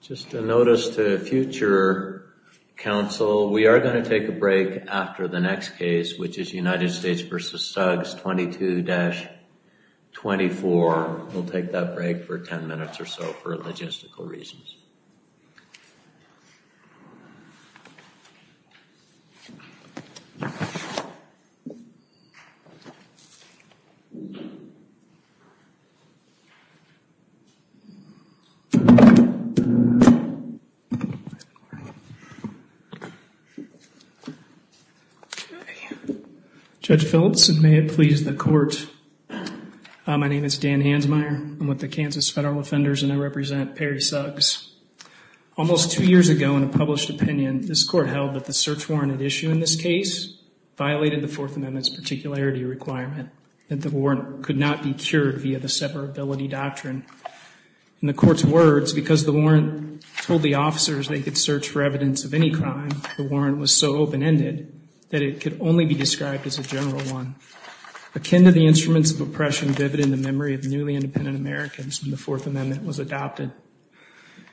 Just a notice to future counsel, we are going to take a break after the next case, which is United States v. Suggs 22-24. We'll take that break for 10 minutes or so for logistical reasons. Judge Philipson, may it please the court. My name is Dan Hansmeyer. I'm with the Kansas federal offenders and I represent Perry Suggs. Almost two years ago in a published opinion, this court held that the search warrant at issue in this case violated the Fourth Amendment's particularity requirement. That the warrant could not be cured via the separability doctrine. In the court's words, because the warrant told the officers they could search for evidence of any crime, the warrant was so open-ended that it could only be described as a general one. Akin to the instruments of oppression vivid in the memory of newly independent Americans when the Fourth Amendment was adopted.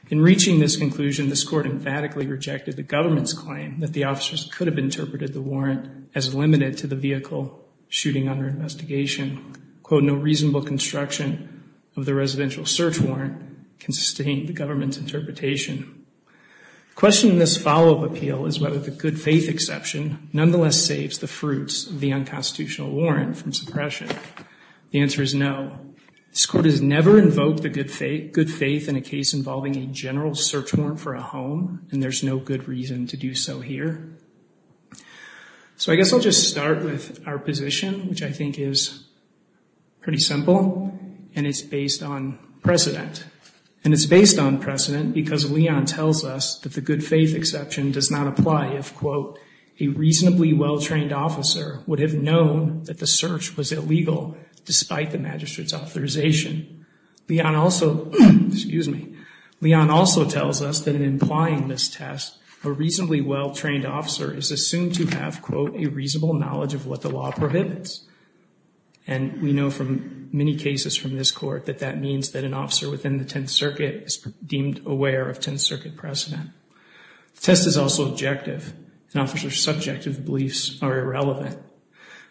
In reaching this conclusion, this court emphatically rejected the government's claim that the officers could have interpreted the warrant as limited to the vehicle shooting under investigation. Quote, no reasonable construction of the residential search warrant can sustain the government's interpretation. The question in this follow-up appeal is whether the good faith exception nonetheless saves the fruits of the unconstitutional warrant from suppression. The answer is no. This court has never invoked the good faith in a case involving a general search warrant for a home, and there's no good reason to do so here. So I guess I'll just start with our position, which I think is pretty simple, and it's based on precedent. And it's based on precedent because Leon tells us that the good faith exception does not apply if, quote, a reasonably well-trained officer would have known that the search was illegal despite the magistrate's authorization. Leon also, excuse me, Leon also tells us that in implying this test, a reasonably well-trained officer is assumed to have, quote, a reasonable knowledge of what the law prohibits. And we know from many cases from this court that that means that an officer within the Tenth Circuit is deemed aware of Tenth Circuit precedent. The test is also objective, and officers' subjective beliefs are irrelevant.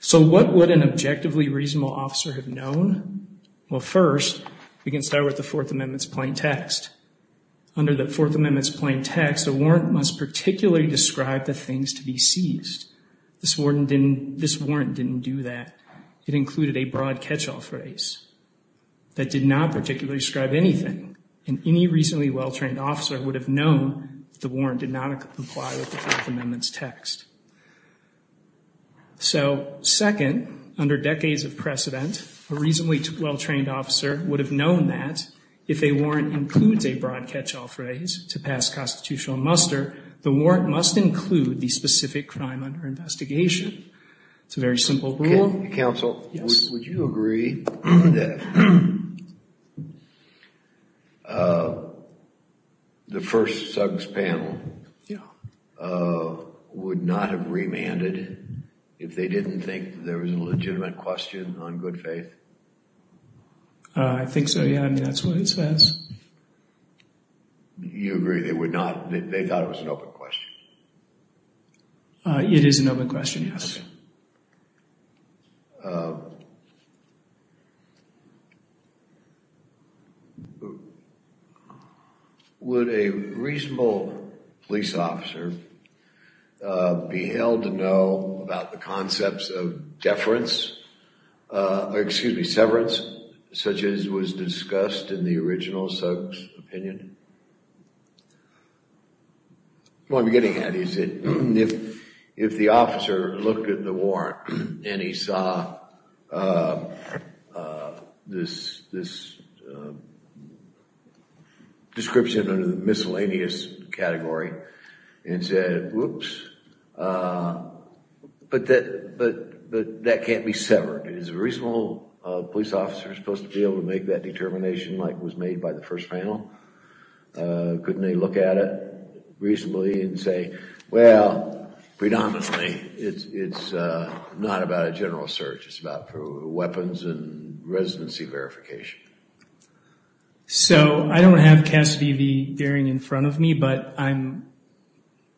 So what would an objectively reasonable officer have known? Well, first, we can start with the Fourth Amendment's plain text. Under the Fourth Amendment's plain text, a warrant must particularly describe the things to be seized. This warrant didn't do that. It included a broad catch-all phrase. That did not particularly describe anything, and any reasonably well-trained officer would have known the warrant did not apply with the Fifth Amendment's text. So second, under decades of precedent, a reasonably well-trained officer would have known that if a warrant includes a broad catch-all phrase to pass constitutional muster, the warrant must include the specific crime under investigation. It's a very simple rule. Counsel, would you agree that the first Suggs panel would not have remanded if they didn't think there was a legitimate question on good faith? I think so, yeah. I mean, that's what it says. You agree they thought it was an open question? It is an open question, yes. Would a reasonable police officer be held to know about the concepts of deference, or excuse me, severance, such as was discussed in the original Suggs opinion? What I'm getting at is that if the officer looked at the warrant and he saw this description under the miscellaneous category and said, whoops, but that can't be severed. Is a reasonable police officer supposed to be able to make that determination like was made by the first panel? Couldn't they look at it reasonably and say, well, predominantly, it's not about a general search. It's about weapons and residency verification. So I don't have Cassidy v. Gearing in front of me, but I'm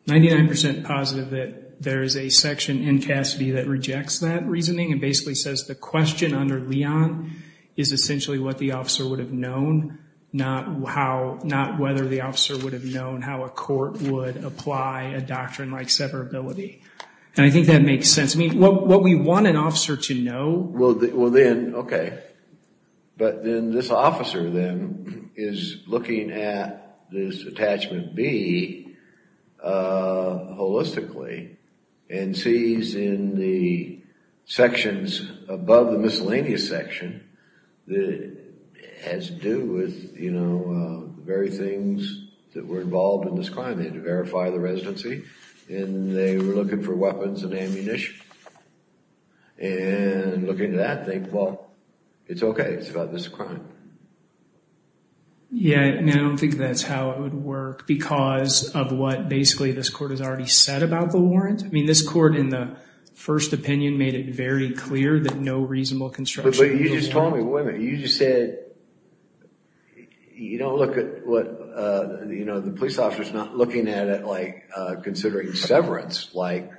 99% positive that there is a section in Cassidy that rejects that reasoning and basically says the question under Leon is essentially what the officer would have known, not whether the officer would have known how a court would apply a doctrine like severability. And I think that makes sense. I mean, what we want an officer to know. Well, then, OK. But then this officer, then, is looking at this attachment B holistically and sees in the sections above the miscellaneous section that has to do with, you know, the very things that were involved in this crime. They had to verify the residency and they were looking for weapons and ammunition. And looking at that, they, well, it's OK. It's about this crime. Yeah, I mean, I don't think that's how it would work because of what basically this court has already said about the warrant. I mean, this court in the first opinion made it very clear that no reasonable construction. You just said you don't look at what, you know, the police officer is not looking at it like considering severance like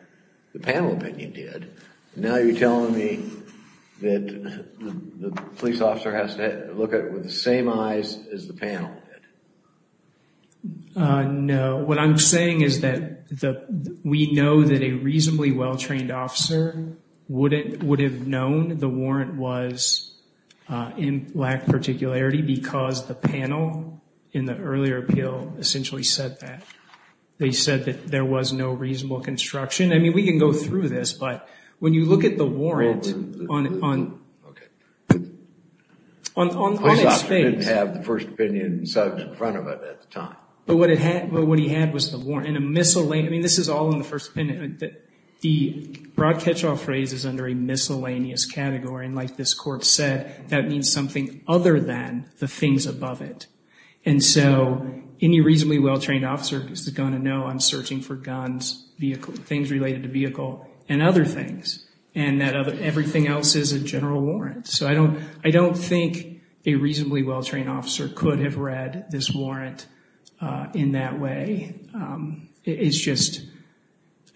the panel opinion did. Now you're telling me that the police officer has to look at it with the same eyes as the panel did. No. What I'm saying is that we know that a reasonably well-trained officer would have known the warrant was in lack of particularity because the panel in the earlier appeal essentially said that. They said that there was no reasonable construction. I mean, we can go through this, but when you look at the warrant on its face. He didn't have the first opinion in front of it at the time. But what he had was the warrant in a miscellaneous, I mean, this is all in the first opinion. The broad catch-all phrase is under a miscellaneous category. And like this court said, that means something other than the things above it. And so any reasonably well-trained officer is going to know I'm searching for guns, things related to vehicle and other things. And that everything else is a general warrant. So I don't think a reasonably well-trained officer could have read this warrant in that way. It's just,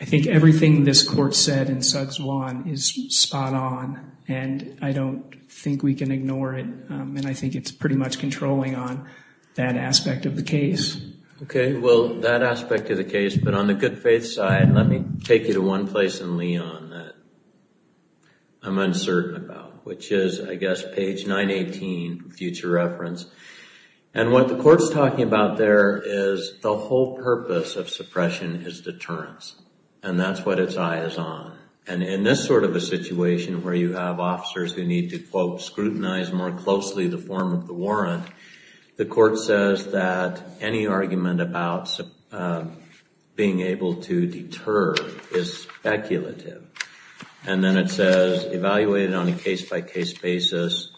I think everything this court said in Sugg's Lawn is spot on. And I don't think we can ignore it. And I think it's pretty much controlling on that aspect of the case. Okay, well, that aspect of the case. But on the good faith side, let me take you to one place in Leon that I'm uncertain about. Which is, I guess, page 918, future reference. And what the court's talking about there is the whole purpose of suppression is deterrence. And that's what its eye is on. And in this sort of a situation where you have officers who need to, quote, scrutinize more closely the form of the warrant, the court says that any argument about being able to deter is speculative. And then it says, evaluate it on a case-by-case basis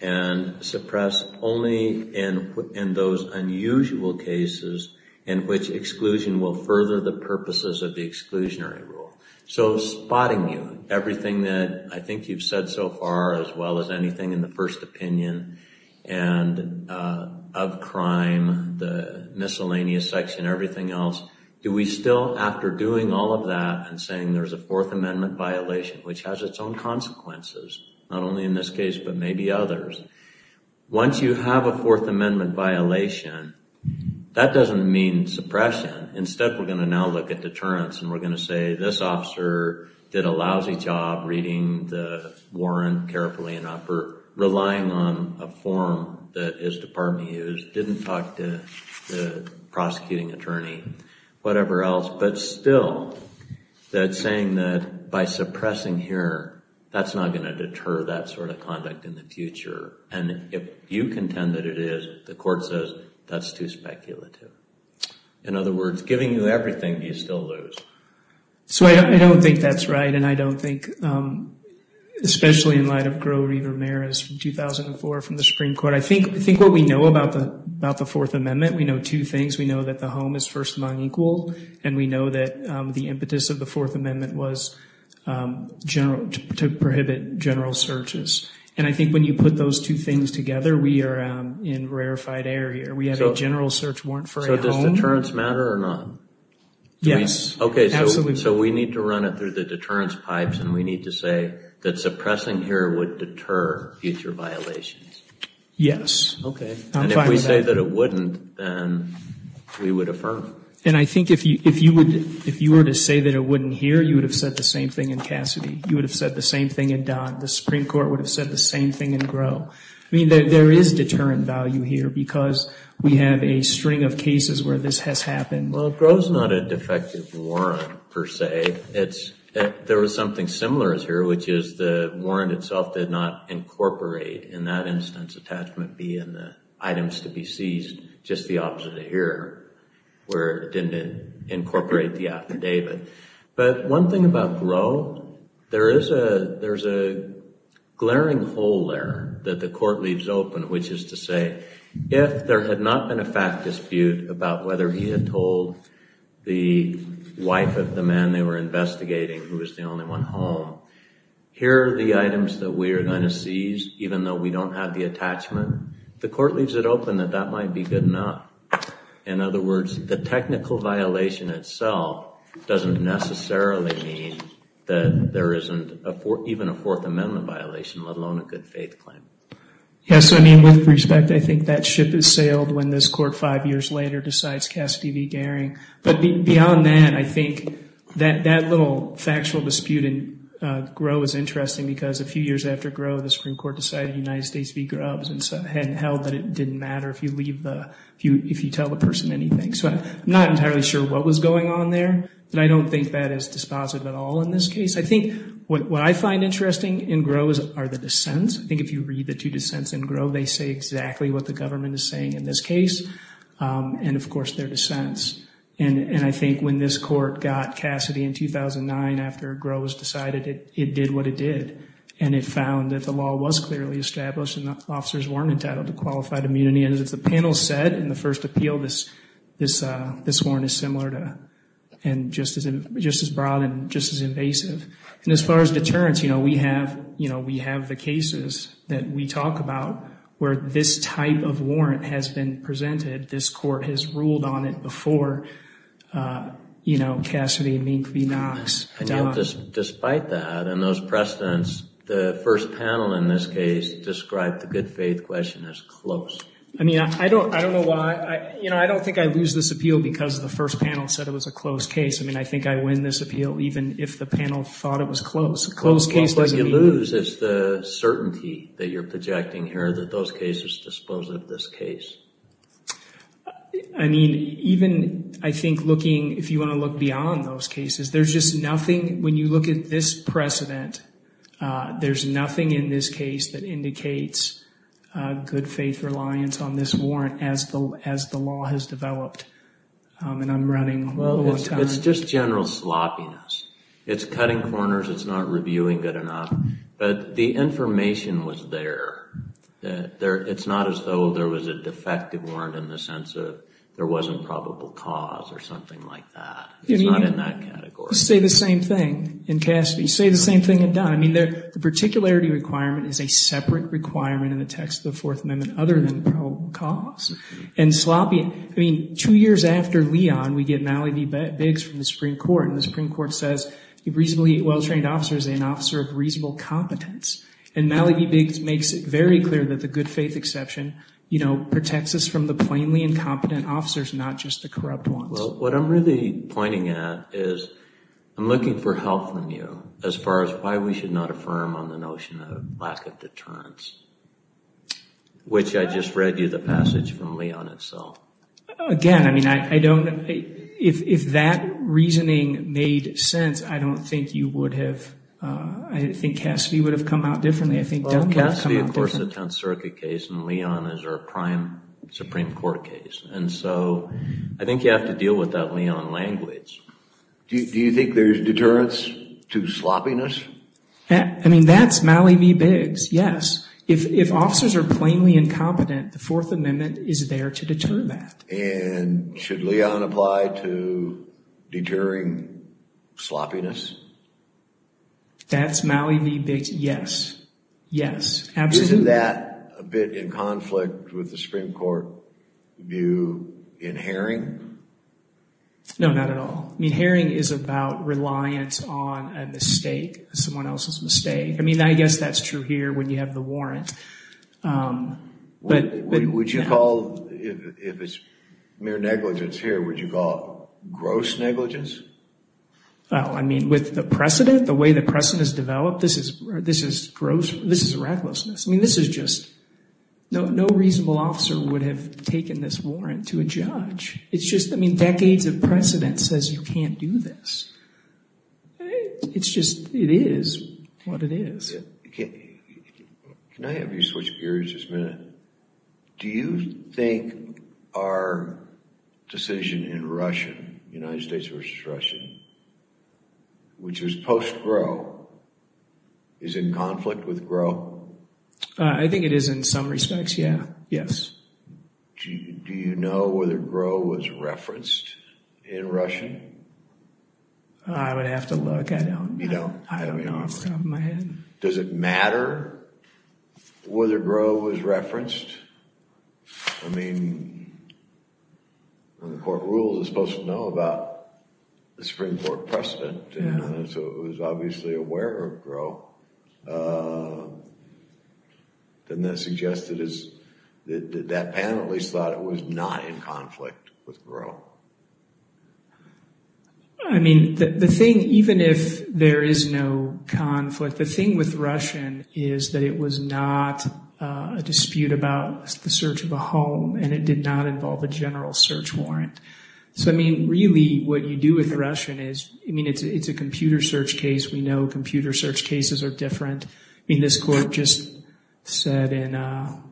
and suppress only in those unusual cases in which exclusion will further the purposes of the exclusionary rule. So spotting you. Everything that I think you've said so far, as well as anything in the first opinion. And of crime, the miscellaneous section, everything else. Do we still, after doing all of that and saying there's a Fourth Amendment violation, which has its own consequences, not only in this case, but maybe others. Once you have a Fourth Amendment violation, that doesn't mean suppression. Instead, we're going to now look at deterrence. And we're going to say, this officer did a lousy job reading the warrant carefully enough for relying on a form that his department used, didn't talk to the prosecuting attorney, whatever else. But still, that saying that by suppressing here, that's not going to deter that sort of conduct in the future. And if you contend that it is, the court says that's too speculative. In other words, giving you everything, you still lose. So I don't think that's right. And I don't think, especially in light of Grover Ramirez from 2004 from the Supreme Court, I think what we know about the Fourth Amendment, we know two things. We know that the home is first among equal. And we know that the impetus of the Fourth Amendment was to prohibit general searches. And I think when you put those two things together, we are in a rarefied area. We have a general search warrant for a home. So does deterrence matter or not? Yes. Okay, so we need to run it through the deterrence pipes, and we need to say that suppressing here would deter future violations. Yes. Okay. And if we say that it wouldn't, then we would affirm it. And I think if you were to say that it wouldn't here, you would have said the same thing in Cassidy. You would have said the same thing in Dodd. The Supreme Court would have said the same thing in Groh. I mean, there is deterrent value here because we have a string of cases where this has happened. Well, Groh is not a defective warrant, per se. There was something similar here, which is the warrant itself did not incorporate, in that instance, attachment B and the items to be seized, just the opposite of here, where it didn't incorporate the affidavit. But one thing about Groh, there is a glaring hole there that the Court leaves open, which is to say, if there had not been a fact dispute about whether he had told the wife of the man they were investigating, who was the only one home, here are the items that we are going to seize, even though we don't have the attachment. The Court leaves it open that that might be good enough. In other words, the technical violation itself doesn't necessarily mean that there isn't even a Fourth Amendment violation, let alone a good faith claim. Yes, I mean, with respect, I think that ship has sailed when this Court, five years later, decides Cassidy v. Goering. But beyond that, I think that little factual dispute in Groh is interesting because a few years after Groh, the Supreme Court decided the United States v. Grubbs and held that it didn't matter if you tell the person anything. So I'm not entirely sure what was going on there, but I don't think that is dispositive at all in this case. I think what I find interesting in Groh are the dissents. I think if you read the two dissents in Groh, they say exactly what the government is saying in this case and, of course, their dissents. And I think when this Court got Cassidy in 2009 after Groh has decided it did what it did and it found that the law was clearly established and the officers weren't entitled to qualified immunity, and as the panel said in the first appeal, this warrant is similar and just as broad and just as invasive. And as far as deterrence, you know, we have the cases that we talk about where this type of warrant has been presented. This Court has ruled on it before, you know, Cassidy v. Knox. Despite that and those precedents, the first panel in this case described the good faith question as close. I mean, I don't know why. You know, I don't think I lose this appeal because the first panel said it was a close case. I mean, I think I win this appeal even if the panel thought it was close. A close case doesn't mean. What you lose is the certainty that you're projecting here that those cases dispose of this case. I mean, even I think looking, if you want to look beyond those cases, there's just nothing, when you look at this precedent, there's nothing in this case that indicates good faith reliance on this warrant as the law has developed. And I'm running low on time. It's just general sloppiness. It's cutting corners. It's not reviewing good enough. But the information was there. It's not as though there was a defective warrant in the sense of there wasn't probable cause or something like that. It's not in that category. You say the same thing in Cassidy. You say the same thing in Dunn. I mean, the particularity requirement is a separate requirement in the text of the Fourth Amendment other than probable cause. I mean, two years after Leon, we get Malley v. Biggs from the Supreme Court, and the Supreme Court says a reasonably well-trained officer is an officer of reasonable competence. And Malley v. Biggs makes it very clear that the good faith exception protects us from the plainly incompetent officers, not just the corrupt ones. Well, what I'm really pointing at is I'm looking for help from you as far as why we should not affirm on the notion of lack of deterrence, which I just read you the passage from Leon itself. Again, I mean, if that reasoning made sense, I don't think you would have. I think Cassidy would have come out differently. I think Dunn would have come out differently. Well, Cassidy, of course, is a 10th Circuit case, and Leon is our prime Supreme Court case. And so I think you have to deal with that Leon language. Do you think there's deterrence to sloppiness? I mean, that's Malley v. Biggs, yes. If officers are plainly incompetent, the Fourth Amendment is there to deter that. And should Leon apply to deterring sloppiness? That's Malley v. Biggs, yes. Yes, absolutely. Isn't that a bit in conflict with the Supreme Court view in Haring? No, not at all. I mean, Haring is about reliance on a mistake, someone else's mistake. I mean, I guess that's true here when you have the warrant. Would you call, if it's mere negligence here, would you call it gross negligence? Well, I mean, with the precedent, the way the precedent has developed, this is gross. This is a recklessness. I mean, this is just, no reasonable officer would have taken this warrant to a judge. It's just, I mean, decades of precedent says you can't do this. It's just, it is what it is. Can I have you switch gears just a minute? Do you think our decision in Russia, United States v. Russia, which was post-Gro, is in conflict with Gro? I think it is in some respects, yeah. Yes. Do you know whether Gro was referenced in Russia? I would have to look. I don't. You don't? I don't know off the top of my head. Does it matter whether Gro was referenced? I mean, when the court rules, it's supposed to know about the Supreme Court precedent, so it was obviously aware of Gro. Then that suggests that that panelist thought it was not in conflict with Gro. I mean, the thing, even if there is no conflict, the thing with Russian is that it was not a dispute about the search of a home, and it did not involve a general search warrant. So, I mean, really what you do with Russian is, I mean, it's a computer search case. We know computer search cases are different. I mean, this court just said in,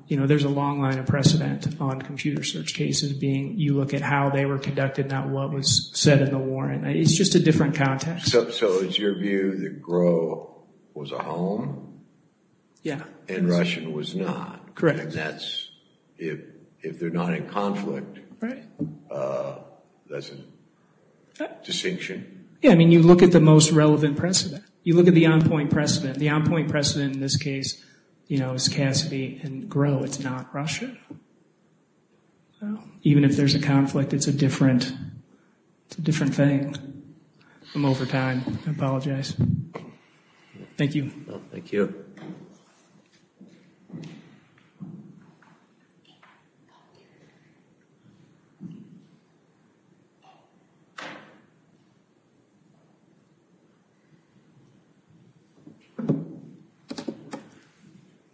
you know, there's a long line of precedent on computer search cases, being you look at how they were conducted, not what was said in the warrant. It's just a different context. So it's your view that Gro was a home? Yeah. And Russian was not? Correct. And that's, if they're not in conflict, that's a distinction? Yeah, I mean, you look at the most relevant precedent. You look at the on-point precedent. The on-point precedent in this case, you know, is Cassidy and Gro. It's not Russian. So even if there's a conflict, it's a different thing. I'm over time. I apologize. Thank you. Thank you. Thank you.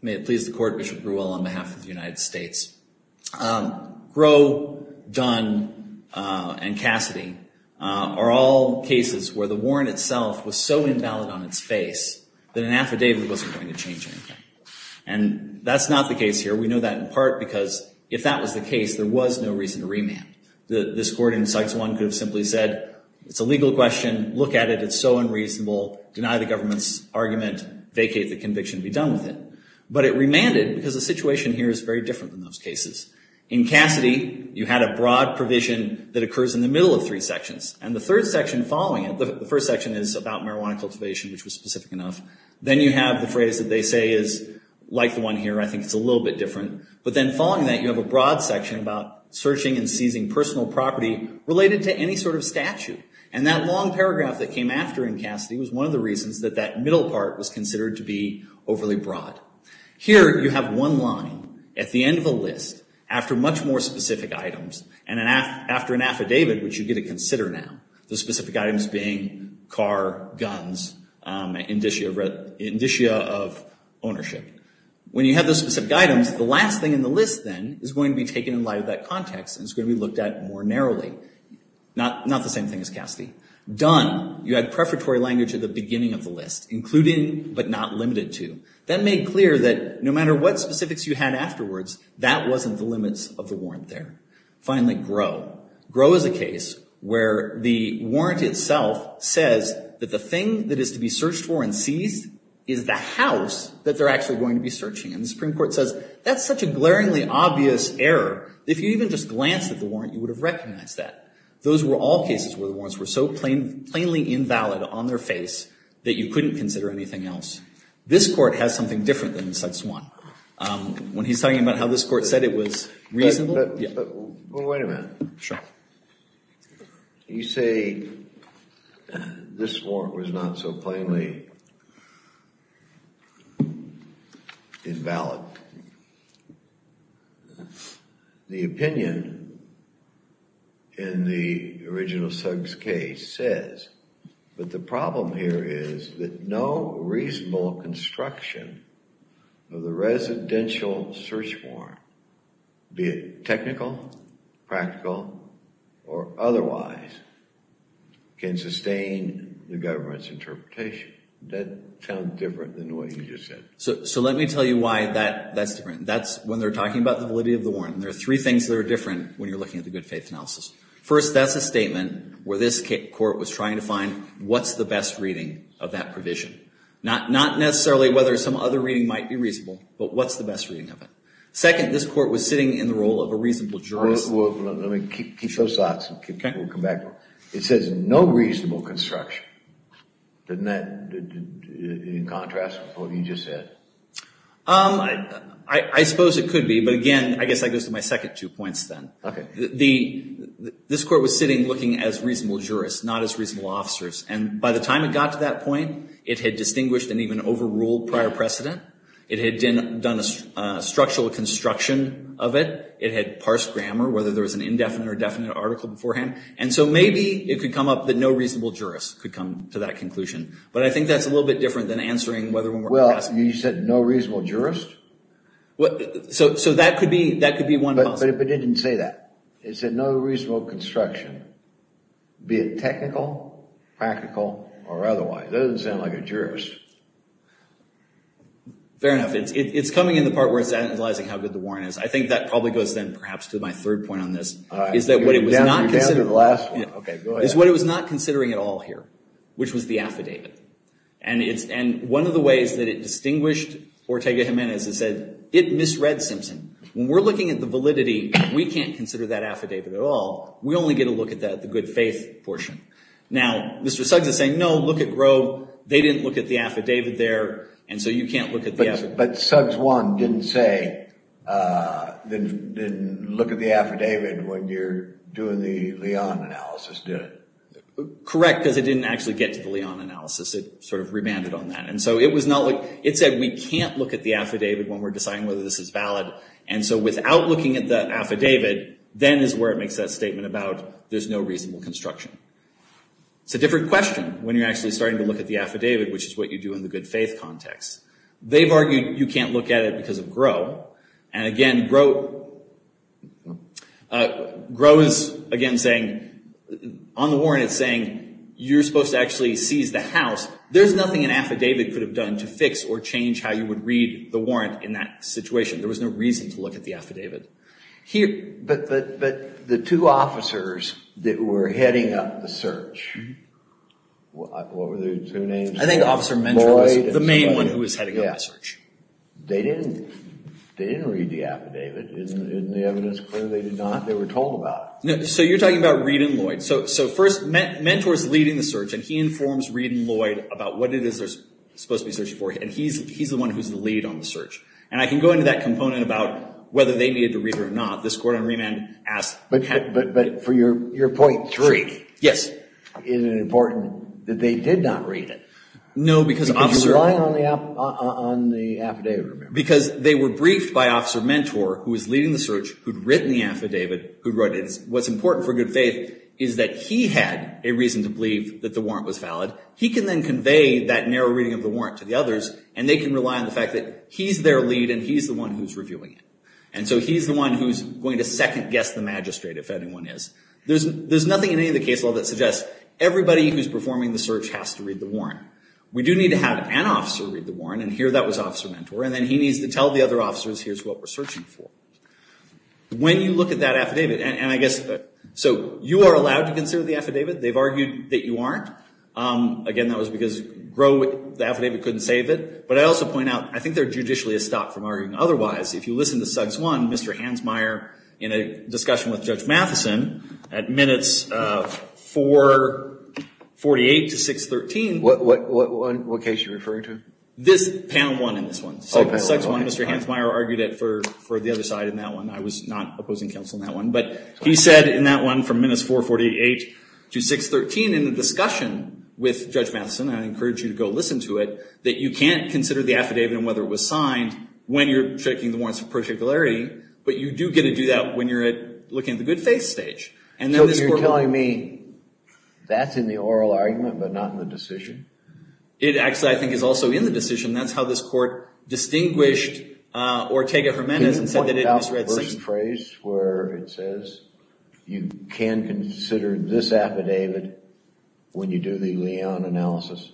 May it please the Court, Bishop Grewell, on behalf of the United States. Gro, Dunn, and Cassidy are all cases where the warrant itself was so invalid on its face that an affidavit wasn't going to change anything. And that's not the case here. We know that in part because if that was the case, there was no reason to remand. This Court in Cites I could have simply said, it's a legal question. Look at it. It's so unreasonable. Deny the government's argument. Vacate the conviction. Be done with it. But it remanded because the situation here is very different than those cases. In Cassidy, you had a broad provision that occurs in the middle of three sections. And the third section following it, the first section is about marijuana cultivation, which was specific enough. Then you have the phrase that they say is like the one here. I think it's a little bit different. But then following that, you have a broad section about searching and seizing personal property related to any sort of statute. And that long paragraph that came after in Cassidy was one of the reasons that that middle part was considered to be overly broad. Here you have one line at the end of a list after much more specific items and after an affidavit, which you get to consider now, the specific items being car, guns, indicia of ownership. When you have those specific items, the last thing in the list then is going to be taken in light of that context and it's going to be looked at more narrowly. Not the same thing as Cassidy. Done. You had prefatory language at the beginning of the list. Including but not limited to. That made clear that no matter what specifics you had afterwards, that wasn't the limits of the warrant there. Finally, grow. Grow is a case where the warrant itself says that the thing that is to be searched for and seized is the house that they're actually going to be searching. And the Supreme Court says that's such a glaringly obvious error, if you even just glanced at the warrant, you would have recognized that. Those were all cases where the warrants were so plainly invalid on their face that you couldn't consider anything else. This court has something different than such one. When he's talking about how this court said it was reasonable. Wait a minute. Sure. You say this warrant was not so plainly invalid. The opinion in the original Suggs case says that the problem here is that no reasonable construction of the residential search warrant, be it technical, practical, or otherwise, can sustain the government's interpretation. That sounds different than what you just said. So let me tell you why that's different. That's when they're talking about the validity of the warrant. And there are three things that are different when you're looking at the good faith analysis. First, that's a statement where this court was trying to find what's the best reading of that provision. Not necessarily whether some other reading might be reasonable, but what's the best reading of it. Second, this court was sitting in the role of a reasonable jurist. Let me keep those thoughts and we'll come back to them. It says no reasonable construction. Isn't that in contrast to what you just said? I suppose it could be, but again, I guess that goes to my second two points then. Okay. This court was sitting looking as reasonable jurists, not as reasonable officers. And by the time it got to that point, it had distinguished and even overruled prior precedent. It had done a structural construction of it. It had parsed grammar, whether there was an indefinite or definite article beforehand. And so maybe it could come up that no reasonable jurist could come to that conclusion. But I think that's a little bit different than answering whether we're passing it. Well, you said no reasonable jurist? So that could be one possibility. But it didn't say that. It said no reasonable construction, be it technical, practical, or otherwise. That doesn't sound like a jurist. Fair enough. It's coming in the part where it's analyzing how good the warrant is. I think that probably goes then perhaps to my third point on this, is that what it was not considering. Okay, go ahead. Is what it was not considering at all here, which was the affidavit. And one of the ways that it distinguished Ortega Jimenez is that it misread Simpson. When we're looking at the validity, we can't consider that affidavit at all. We only get a look at the good faith portion. Now, Mr. Suggs is saying, no, look at Grove. They didn't look at the affidavit there, and so you can't look at the affidavit. But Suggs 1 didn't say, then look at the affidavit when you're doing the Leon analysis, did it? Correct, because it didn't actually get to the Leon analysis. It sort of remanded on that. And so it said we can't look at the affidavit when we're deciding whether this is valid. And so without looking at the affidavit, then is where it makes that statement about there's no reasonable construction. It's a different question when you're actually starting to look at the affidavit, which is what you do in the good faith context. They've argued you can't look at it because of Grove. And again, Grove is, again, saying, on the warrant it's saying you're supposed to actually seize the house. There's nothing an affidavit could have done to fix or change how you would read the warrant in that situation. There was no reason to look at the affidavit. But the two officers that were heading up the search, what were their two names? I think Officer Mentor was the main one who was heading up the search. They didn't read the affidavit. Isn't the evidence clear? They did not. They were told about it. So you're talking about Reed and Lloyd. So first, Mentor is leading the search and he informs Reed and Lloyd about what it is they're supposed to be searching for. And he's the one who's the lead on the search. And I can go into that component about whether they needed to read it or not. This court on remand asked. But for your point three. Yes. Is it important that they did not read it? No, because Officer. Because you rely on the affidavit. Because they were briefed by Officer Mentor, who was leading the search, who'd written the affidavit, who wrote it. What's important for good faith is that he had a reason to believe that the warrant was valid. He can then convey that narrow reading of the warrant to the others. And they can rely on the fact that he's their lead and he's the one who's reviewing it. And so he's the one who's going to second guess the magistrate, if anyone is. There's nothing in any of the case law that suggests everybody who's performing the search has to read the warrant. We do need to have an officer read the warrant. And here that was Officer Mentor. And then he needs to tell the other officers, here's what we're searching for. When you look at that affidavit. And I guess. So you are allowed to consider the affidavit. They've argued that you aren't. Again, that was because the affidavit couldn't save it. But I also point out, I think they're judicially a stop from arguing otherwise. If you listen to Suggs 1, Mr. Hansmeier, in a discussion with Judge Matheson, at minutes 448 to 613. What case are you referring to? This panel 1 in this one. Suggs 1, Mr. Hansmeier argued it for the other side in that one. I was not opposing counsel in that one. But he said in that one from minutes 448 to 613 in a discussion with Judge Matheson. I encourage you to go listen to it. That you can't consider the affidavit and whether it was signed when you're checking the warrants of particularity. But you do get to do that when you're looking at the good faith stage. So you're telling me that's in the oral argument but not in the decision? That's how this court distinguished Ortega-Gimenez and said that it misread Simpson. Can you point out the first phrase where it says you can consider this affidavit when you do the Leon analysis?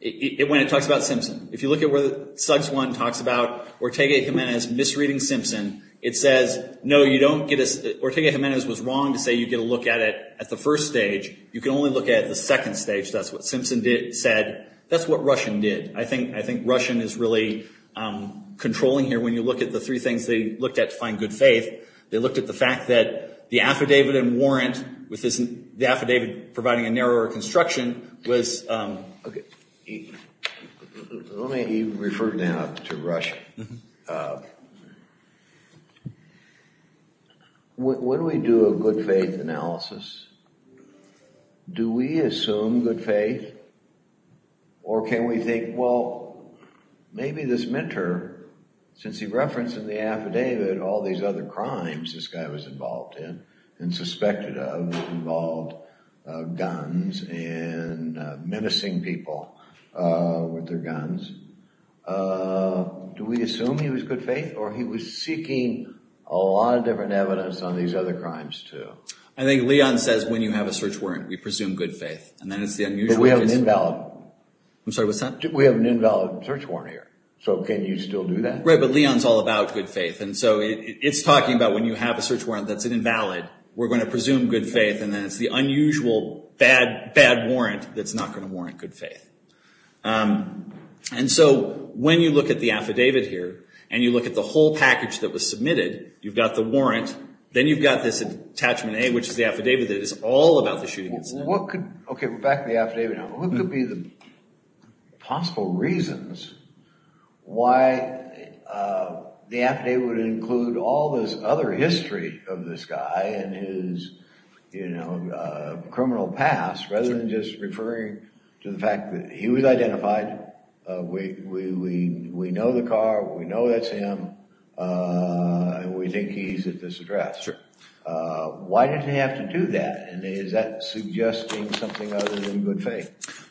When it talks about Simpson. If you look at where Suggs 1 talks about Ortega-Gimenez misreading Simpson. It says, no, you don't get a, Ortega-Gimenez was wrong to say you get a look at it at the first stage. You can only look at it at the second stage. That's what Simpson said. That's what Russian did. I think Russian is really controlling here when you look at the three things they looked at to find good faith. They looked at the fact that the affidavit and warrant with the affidavit providing a narrower construction was. Let me refer now to Russian. When we do a good faith analysis, do we assume good faith? Or can we think, well, maybe this mentor, since he referenced in the affidavit all these other crimes this guy was involved in. And suspected of involved guns and menacing people with their guns. Do we assume he was good faith or he was seeking a lot of different evidence on these other crimes too? I think Leon says when you have a search warrant, we presume good faith. But we have an invalid. I'm sorry, what's that? We have an invalid search warrant here. So can you still do that? Right, but Leon's all about good faith. And so it's talking about when you have a search warrant that's invalid, we're going to presume good faith. And then it's the unusual bad, bad warrant that's not going to warrant good faith. And so when you look at the affidavit here and you look at the whole package that was submitted, you've got the warrant. Then you've got this attachment A, which is the affidavit that is all about the shooting incident. Okay, we're back to the affidavit now. What could be the possible reasons why the affidavit would include all this other history of this guy and his criminal past, rather than just referring to the fact that he was identified, we know the car, we know that's him, and we think he's at this address. Why did he have to do that? And is that suggesting something other than good faith?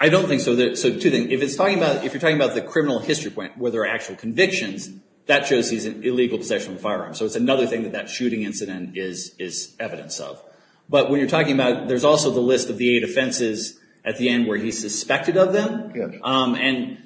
I don't think so. So two things. If you're talking about the criminal history point where there are actual convictions, that shows he's in illegal possession of a firearm. So it's another thing that that shooting incident is evidence of. But when you're talking about, there's also the list of the eight offenses at the end where he's suspected of them. And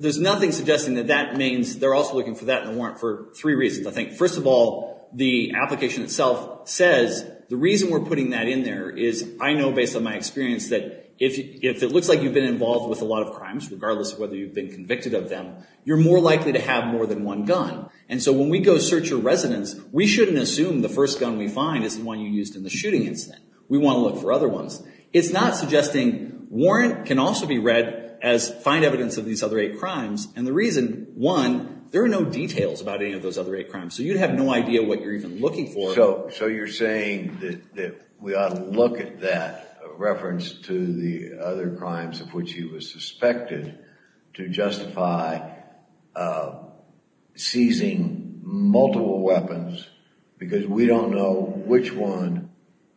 there's nothing suggesting that that means they're also looking for that in the warrant for three reasons. I think, first of all, the application itself says the reason we're putting that in there is I know based on my experience that if it looks like you've been involved with a lot of crimes, regardless of whether you've been convicted of them, you're more likely to have more than one gun. And so when we go search a residence, we shouldn't assume the first gun we find is the one you used in the shooting incident. We want to look for other ones. It's not suggesting warrant can also be read as find evidence of these other eight crimes. And the reason, one, there are no details about any of those other eight crimes. So you'd have no idea what you're even looking for. So you're saying that we ought to look at that reference to the other crimes of which he was suspected to justify seizing multiple weapons because we don't know which one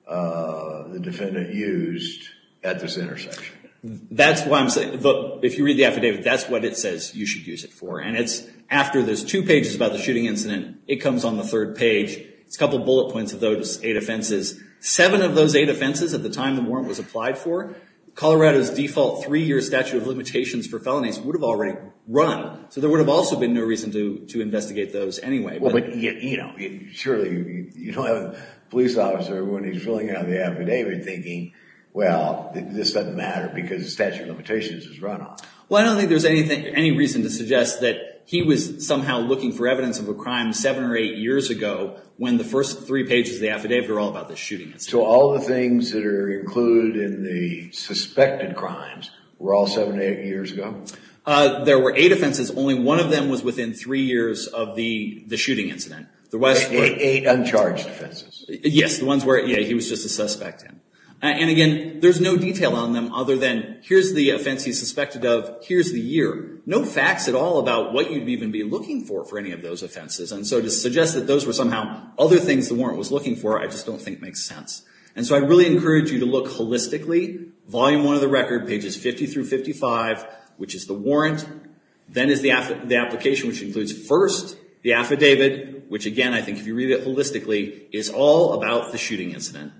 the defendant used at this intersection. If you read the affidavit, that's what it says you should use it for. And after there's two pages about the shooting incident, it comes on the third page. It's a couple bullet points of those eight offenses. Seven of those eight offenses at the time the warrant was applied for, Colorado's default three-year statute of limitations for felonies would have already run. So there would have also been no reason to investigate those anyway. Surely you don't have a police officer when he's filling out the affidavit thinking, well, this doesn't matter because the statute of limitations has run off. Well, I don't think there's any reason to suggest that he was somehow looking for evidence of a crime seven or eight years ago when the first three pages of the affidavit are all about the shooting incident. So all the things that are included in the suspected crimes were all seven or eight years ago? There were eight offenses. Only one of them was within three years of the shooting incident. Eight uncharged offenses. Yes, the ones where he was just a suspect. And again, there's no detail on them other than here's the offense he's suspected of. Here's the year. No facts at all about what you'd even be looking for for any of those offenses. And so to suggest that those were somehow other things the warrant was looking for I just don't think makes sense. And so I really encourage you to look holistically. Volume one of the record, pages 50 through 55, which is the warrant. Then is the application, which includes first the affidavit, which again I think if you read it holistically is all about the shooting incident.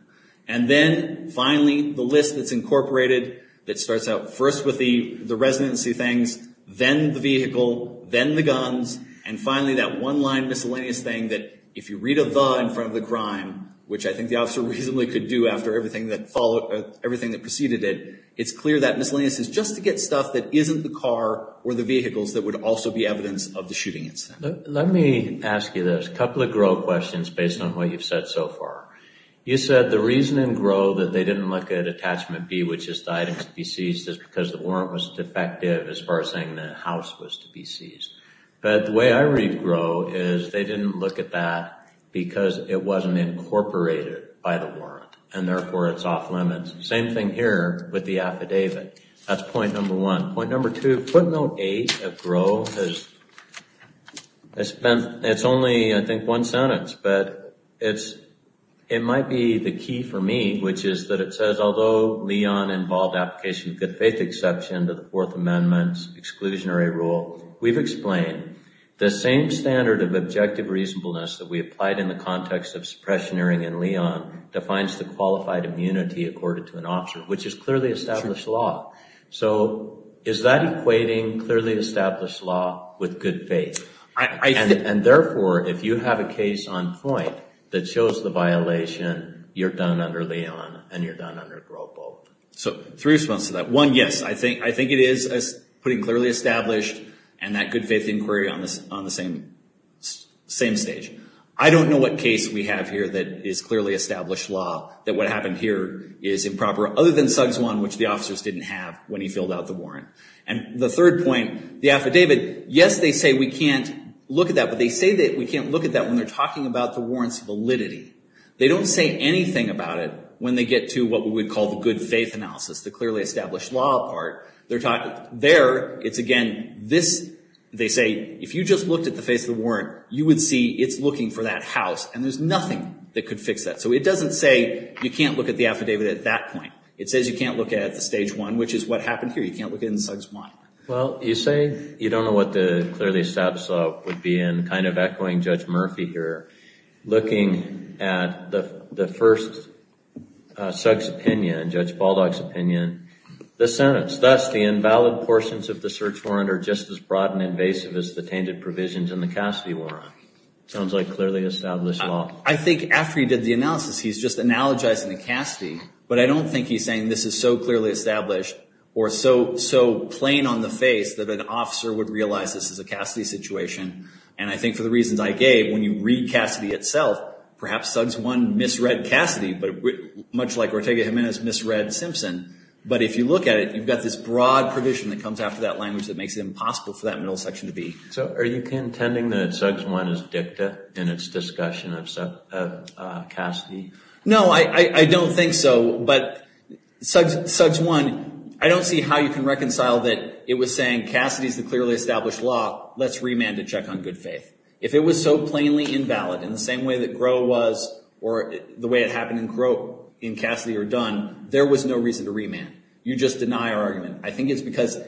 And then finally the list that's incorporated that starts out first with the residency things, then the vehicle, then the guns, and finally that one line miscellaneous thing that if you read a the in front of the crime, which I think the officer reasonably could do after everything that preceded it, it's clear that miscellaneous is just to get stuff that isn't the car or the vehicles that would also be evidence of the shooting incident. Let me ask you this. A couple of GRO questions based on what you've said so far. You said the reason in GRO that they didn't look at attachment B, which is the item to be seized, is because the warrant was defective as far as saying the house was to be seized. But the way I read GRO is they didn't look at that because it wasn't incorporated by the warrant, and therefore it's off limits. Same thing here with the affidavit. That's point number one. Point number two, footnote eight of GRO, it's only I think one sentence, but it might be the key for me, which is that it says, although LEON involved application of good faith exception to the Fourth Amendment's exclusionary rule, we've explained the same standard of objective reasonableness that we applied in the context of suppression hearing in LEON defines the qualified immunity accorded to an officer, which is clearly established law. So is that equating clearly established law with good faith? And therefore, if you have a case on point that shows the violation, you're done under LEON and you're done under GRO. So three responses to that. One, yes, I think it is putting clearly established and that good faith inquiry on the same stage. I don't know what case we have here that is clearly established law, that what happened here is improper other than Sugg's one, which the officers didn't have when he filled out the warrant. And the third point, the affidavit, yes, they say we can't look at that, but they say that we can't look at that when they're talking about the warrant's validity. They don't say anything about it when they get to what we would call the good faith analysis, the clearly established law part. There, it's again, this, they say, if you just looked at the face of the warrant, you would see it's looking for that house, and there's nothing that could fix that. So it doesn't say you can't look at the affidavit at that point. It says you can't look at the stage one, which is what happened here. You can't look at it in Sugg's one. Well, you say you don't know what the clearly established law would be, and kind of echoing Judge Murphy here, looking at the first Sugg's opinion, Judge Baldock's opinion, the sentence, thus the invalid portions of the search warrant are just as broad and invasive as the tainted provisions in the Cassidy warrant. Sounds like clearly established law. I think after he did the analysis, he's just analogizing the Cassidy, but I don't think he's saying this is so clearly established or so plain on the face that an officer would realize this is a Cassidy situation, and I think for the reasons I gave, when you read Cassidy itself, perhaps Sugg's one misread Cassidy, much like Ortega Jimenez misread Simpson, but if you look at it, you've got this broad provision that comes after that language that makes it impossible for that middle section to be. So are you contending that Sugg's one is dicta in its discussion of Cassidy? No, I don't think so, but Sugg's one, I don't see how you can reconcile that it was saying Cassidy's the clearly established law. Let's remand to check on good faith. If it was so plainly invalid in the same way that Groh was or the way it happened in Cassidy or Dunn, there was no reason to remand. You just deny our argument. I think it's because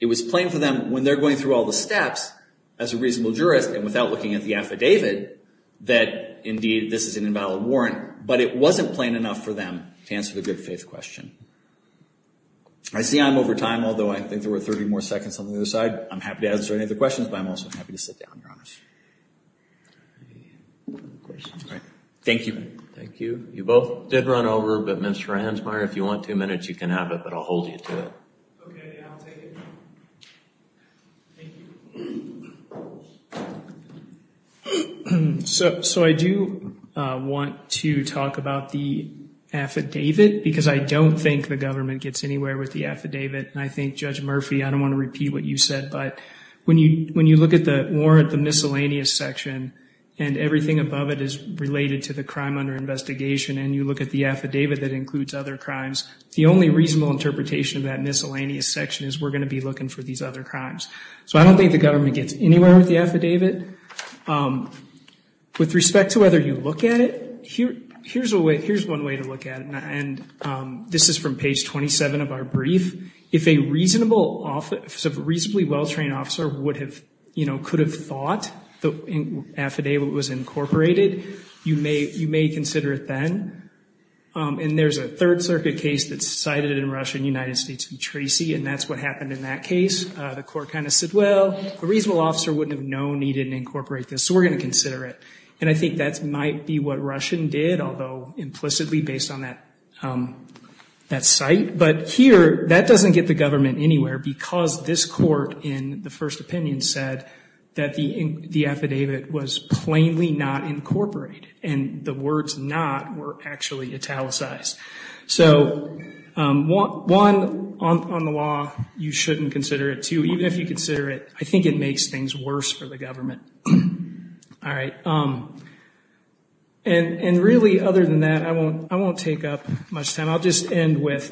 it was plain for them when they're going through all the steps, as a reasonable jurist and without looking at the affidavit, that indeed this is an invalid warrant, but it wasn't plain enough for them to answer the good faith question. I see I'm over time, although I think there were 30 more seconds on the other side. I'm happy to answer any of the questions, but I'm also happy to sit down, Your Honors. Thank you. Thank you. You both did run over, but Mr. Hansmeier, if you want two minutes, you can have it, but I'll hold you to it. Okay, I'll take it. Thank you. So I do want to talk about the affidavit because I don't think the government gets anywhere with the affidavit. I think, Judge Murphy, I don't want to repeat what you said, but when you look at the warrant, the miscellaneous section, and everything above it is related to the crime under investigation, and you look at the affidavit that includes other crimes, the only reasonable interpretation of that miscellaneous section is we're going to be looking for these other crimes. So I don't think the government gets anywhere with the affidavit. With respect to whether you look at it, here's one way to look at it, and this is from page 27 of our brief. If a reasonably well-trained officer could have thought the affidavit was incorporated, you may consider it then. And there's a Third Circuit case that's cited in Russia, United States v. Tracy, and that's what happened in that case. The court kind of said, well, a reasonable officer wouldn't have known he didn't incorporate this, so we're going to consider it. And I think that might be what Russian did, although implicitly based on that site. But here, that doesn't get the government anywhere because this court in the first opinion said that the affidavit was plainly not incorporated, and the words not were actually italicized. So, one, on the law, you shouldn't consider it. Two, even if you consider it, I think it makes things worse for the government. All right. And really, other than that, I won't take up much time. I'll just end with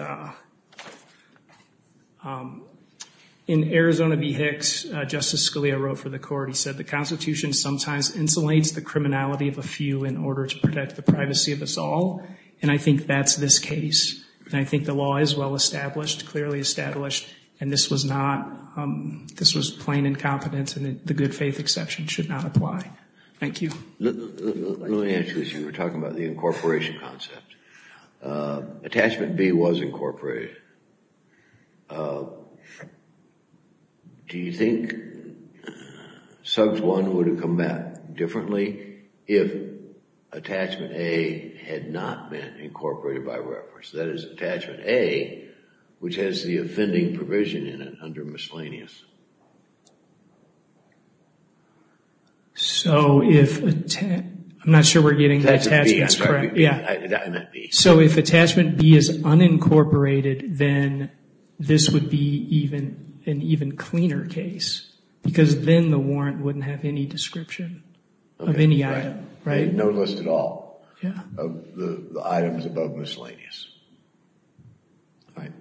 in Arizona v. Hicks, Justice Scalia wrote for the court, he said, the Constitution sometimes insulates the criminality of a few in order to protect the privacy of us all, and I think that's this case. And I think the law is well established, clearly established, and this was plain incompetence and the good faith exception should not apply. Thank you. Let me ask you this. You were talking about the incorporation concept. Attachment B was incorporated. Do you think SUGS I would have come back differently if attachment A had not been incorporated by reference? That is, attachment A, which has the offending provision in it under miscellaneous. So, if attachment B is unincorporated, then this would be an even cleaner case, because then the warrant wouldn't have any description of any item, right? No list at all of the items above miscellaneous. All right.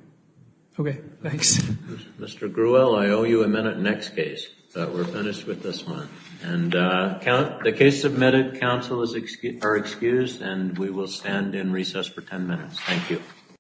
Okay, thanks. Mr. Gruel, I owe you a minute next case. We're finished with this one. And the case submitted, counsel are excused and we will stand in recess for ten minutes. Thank you.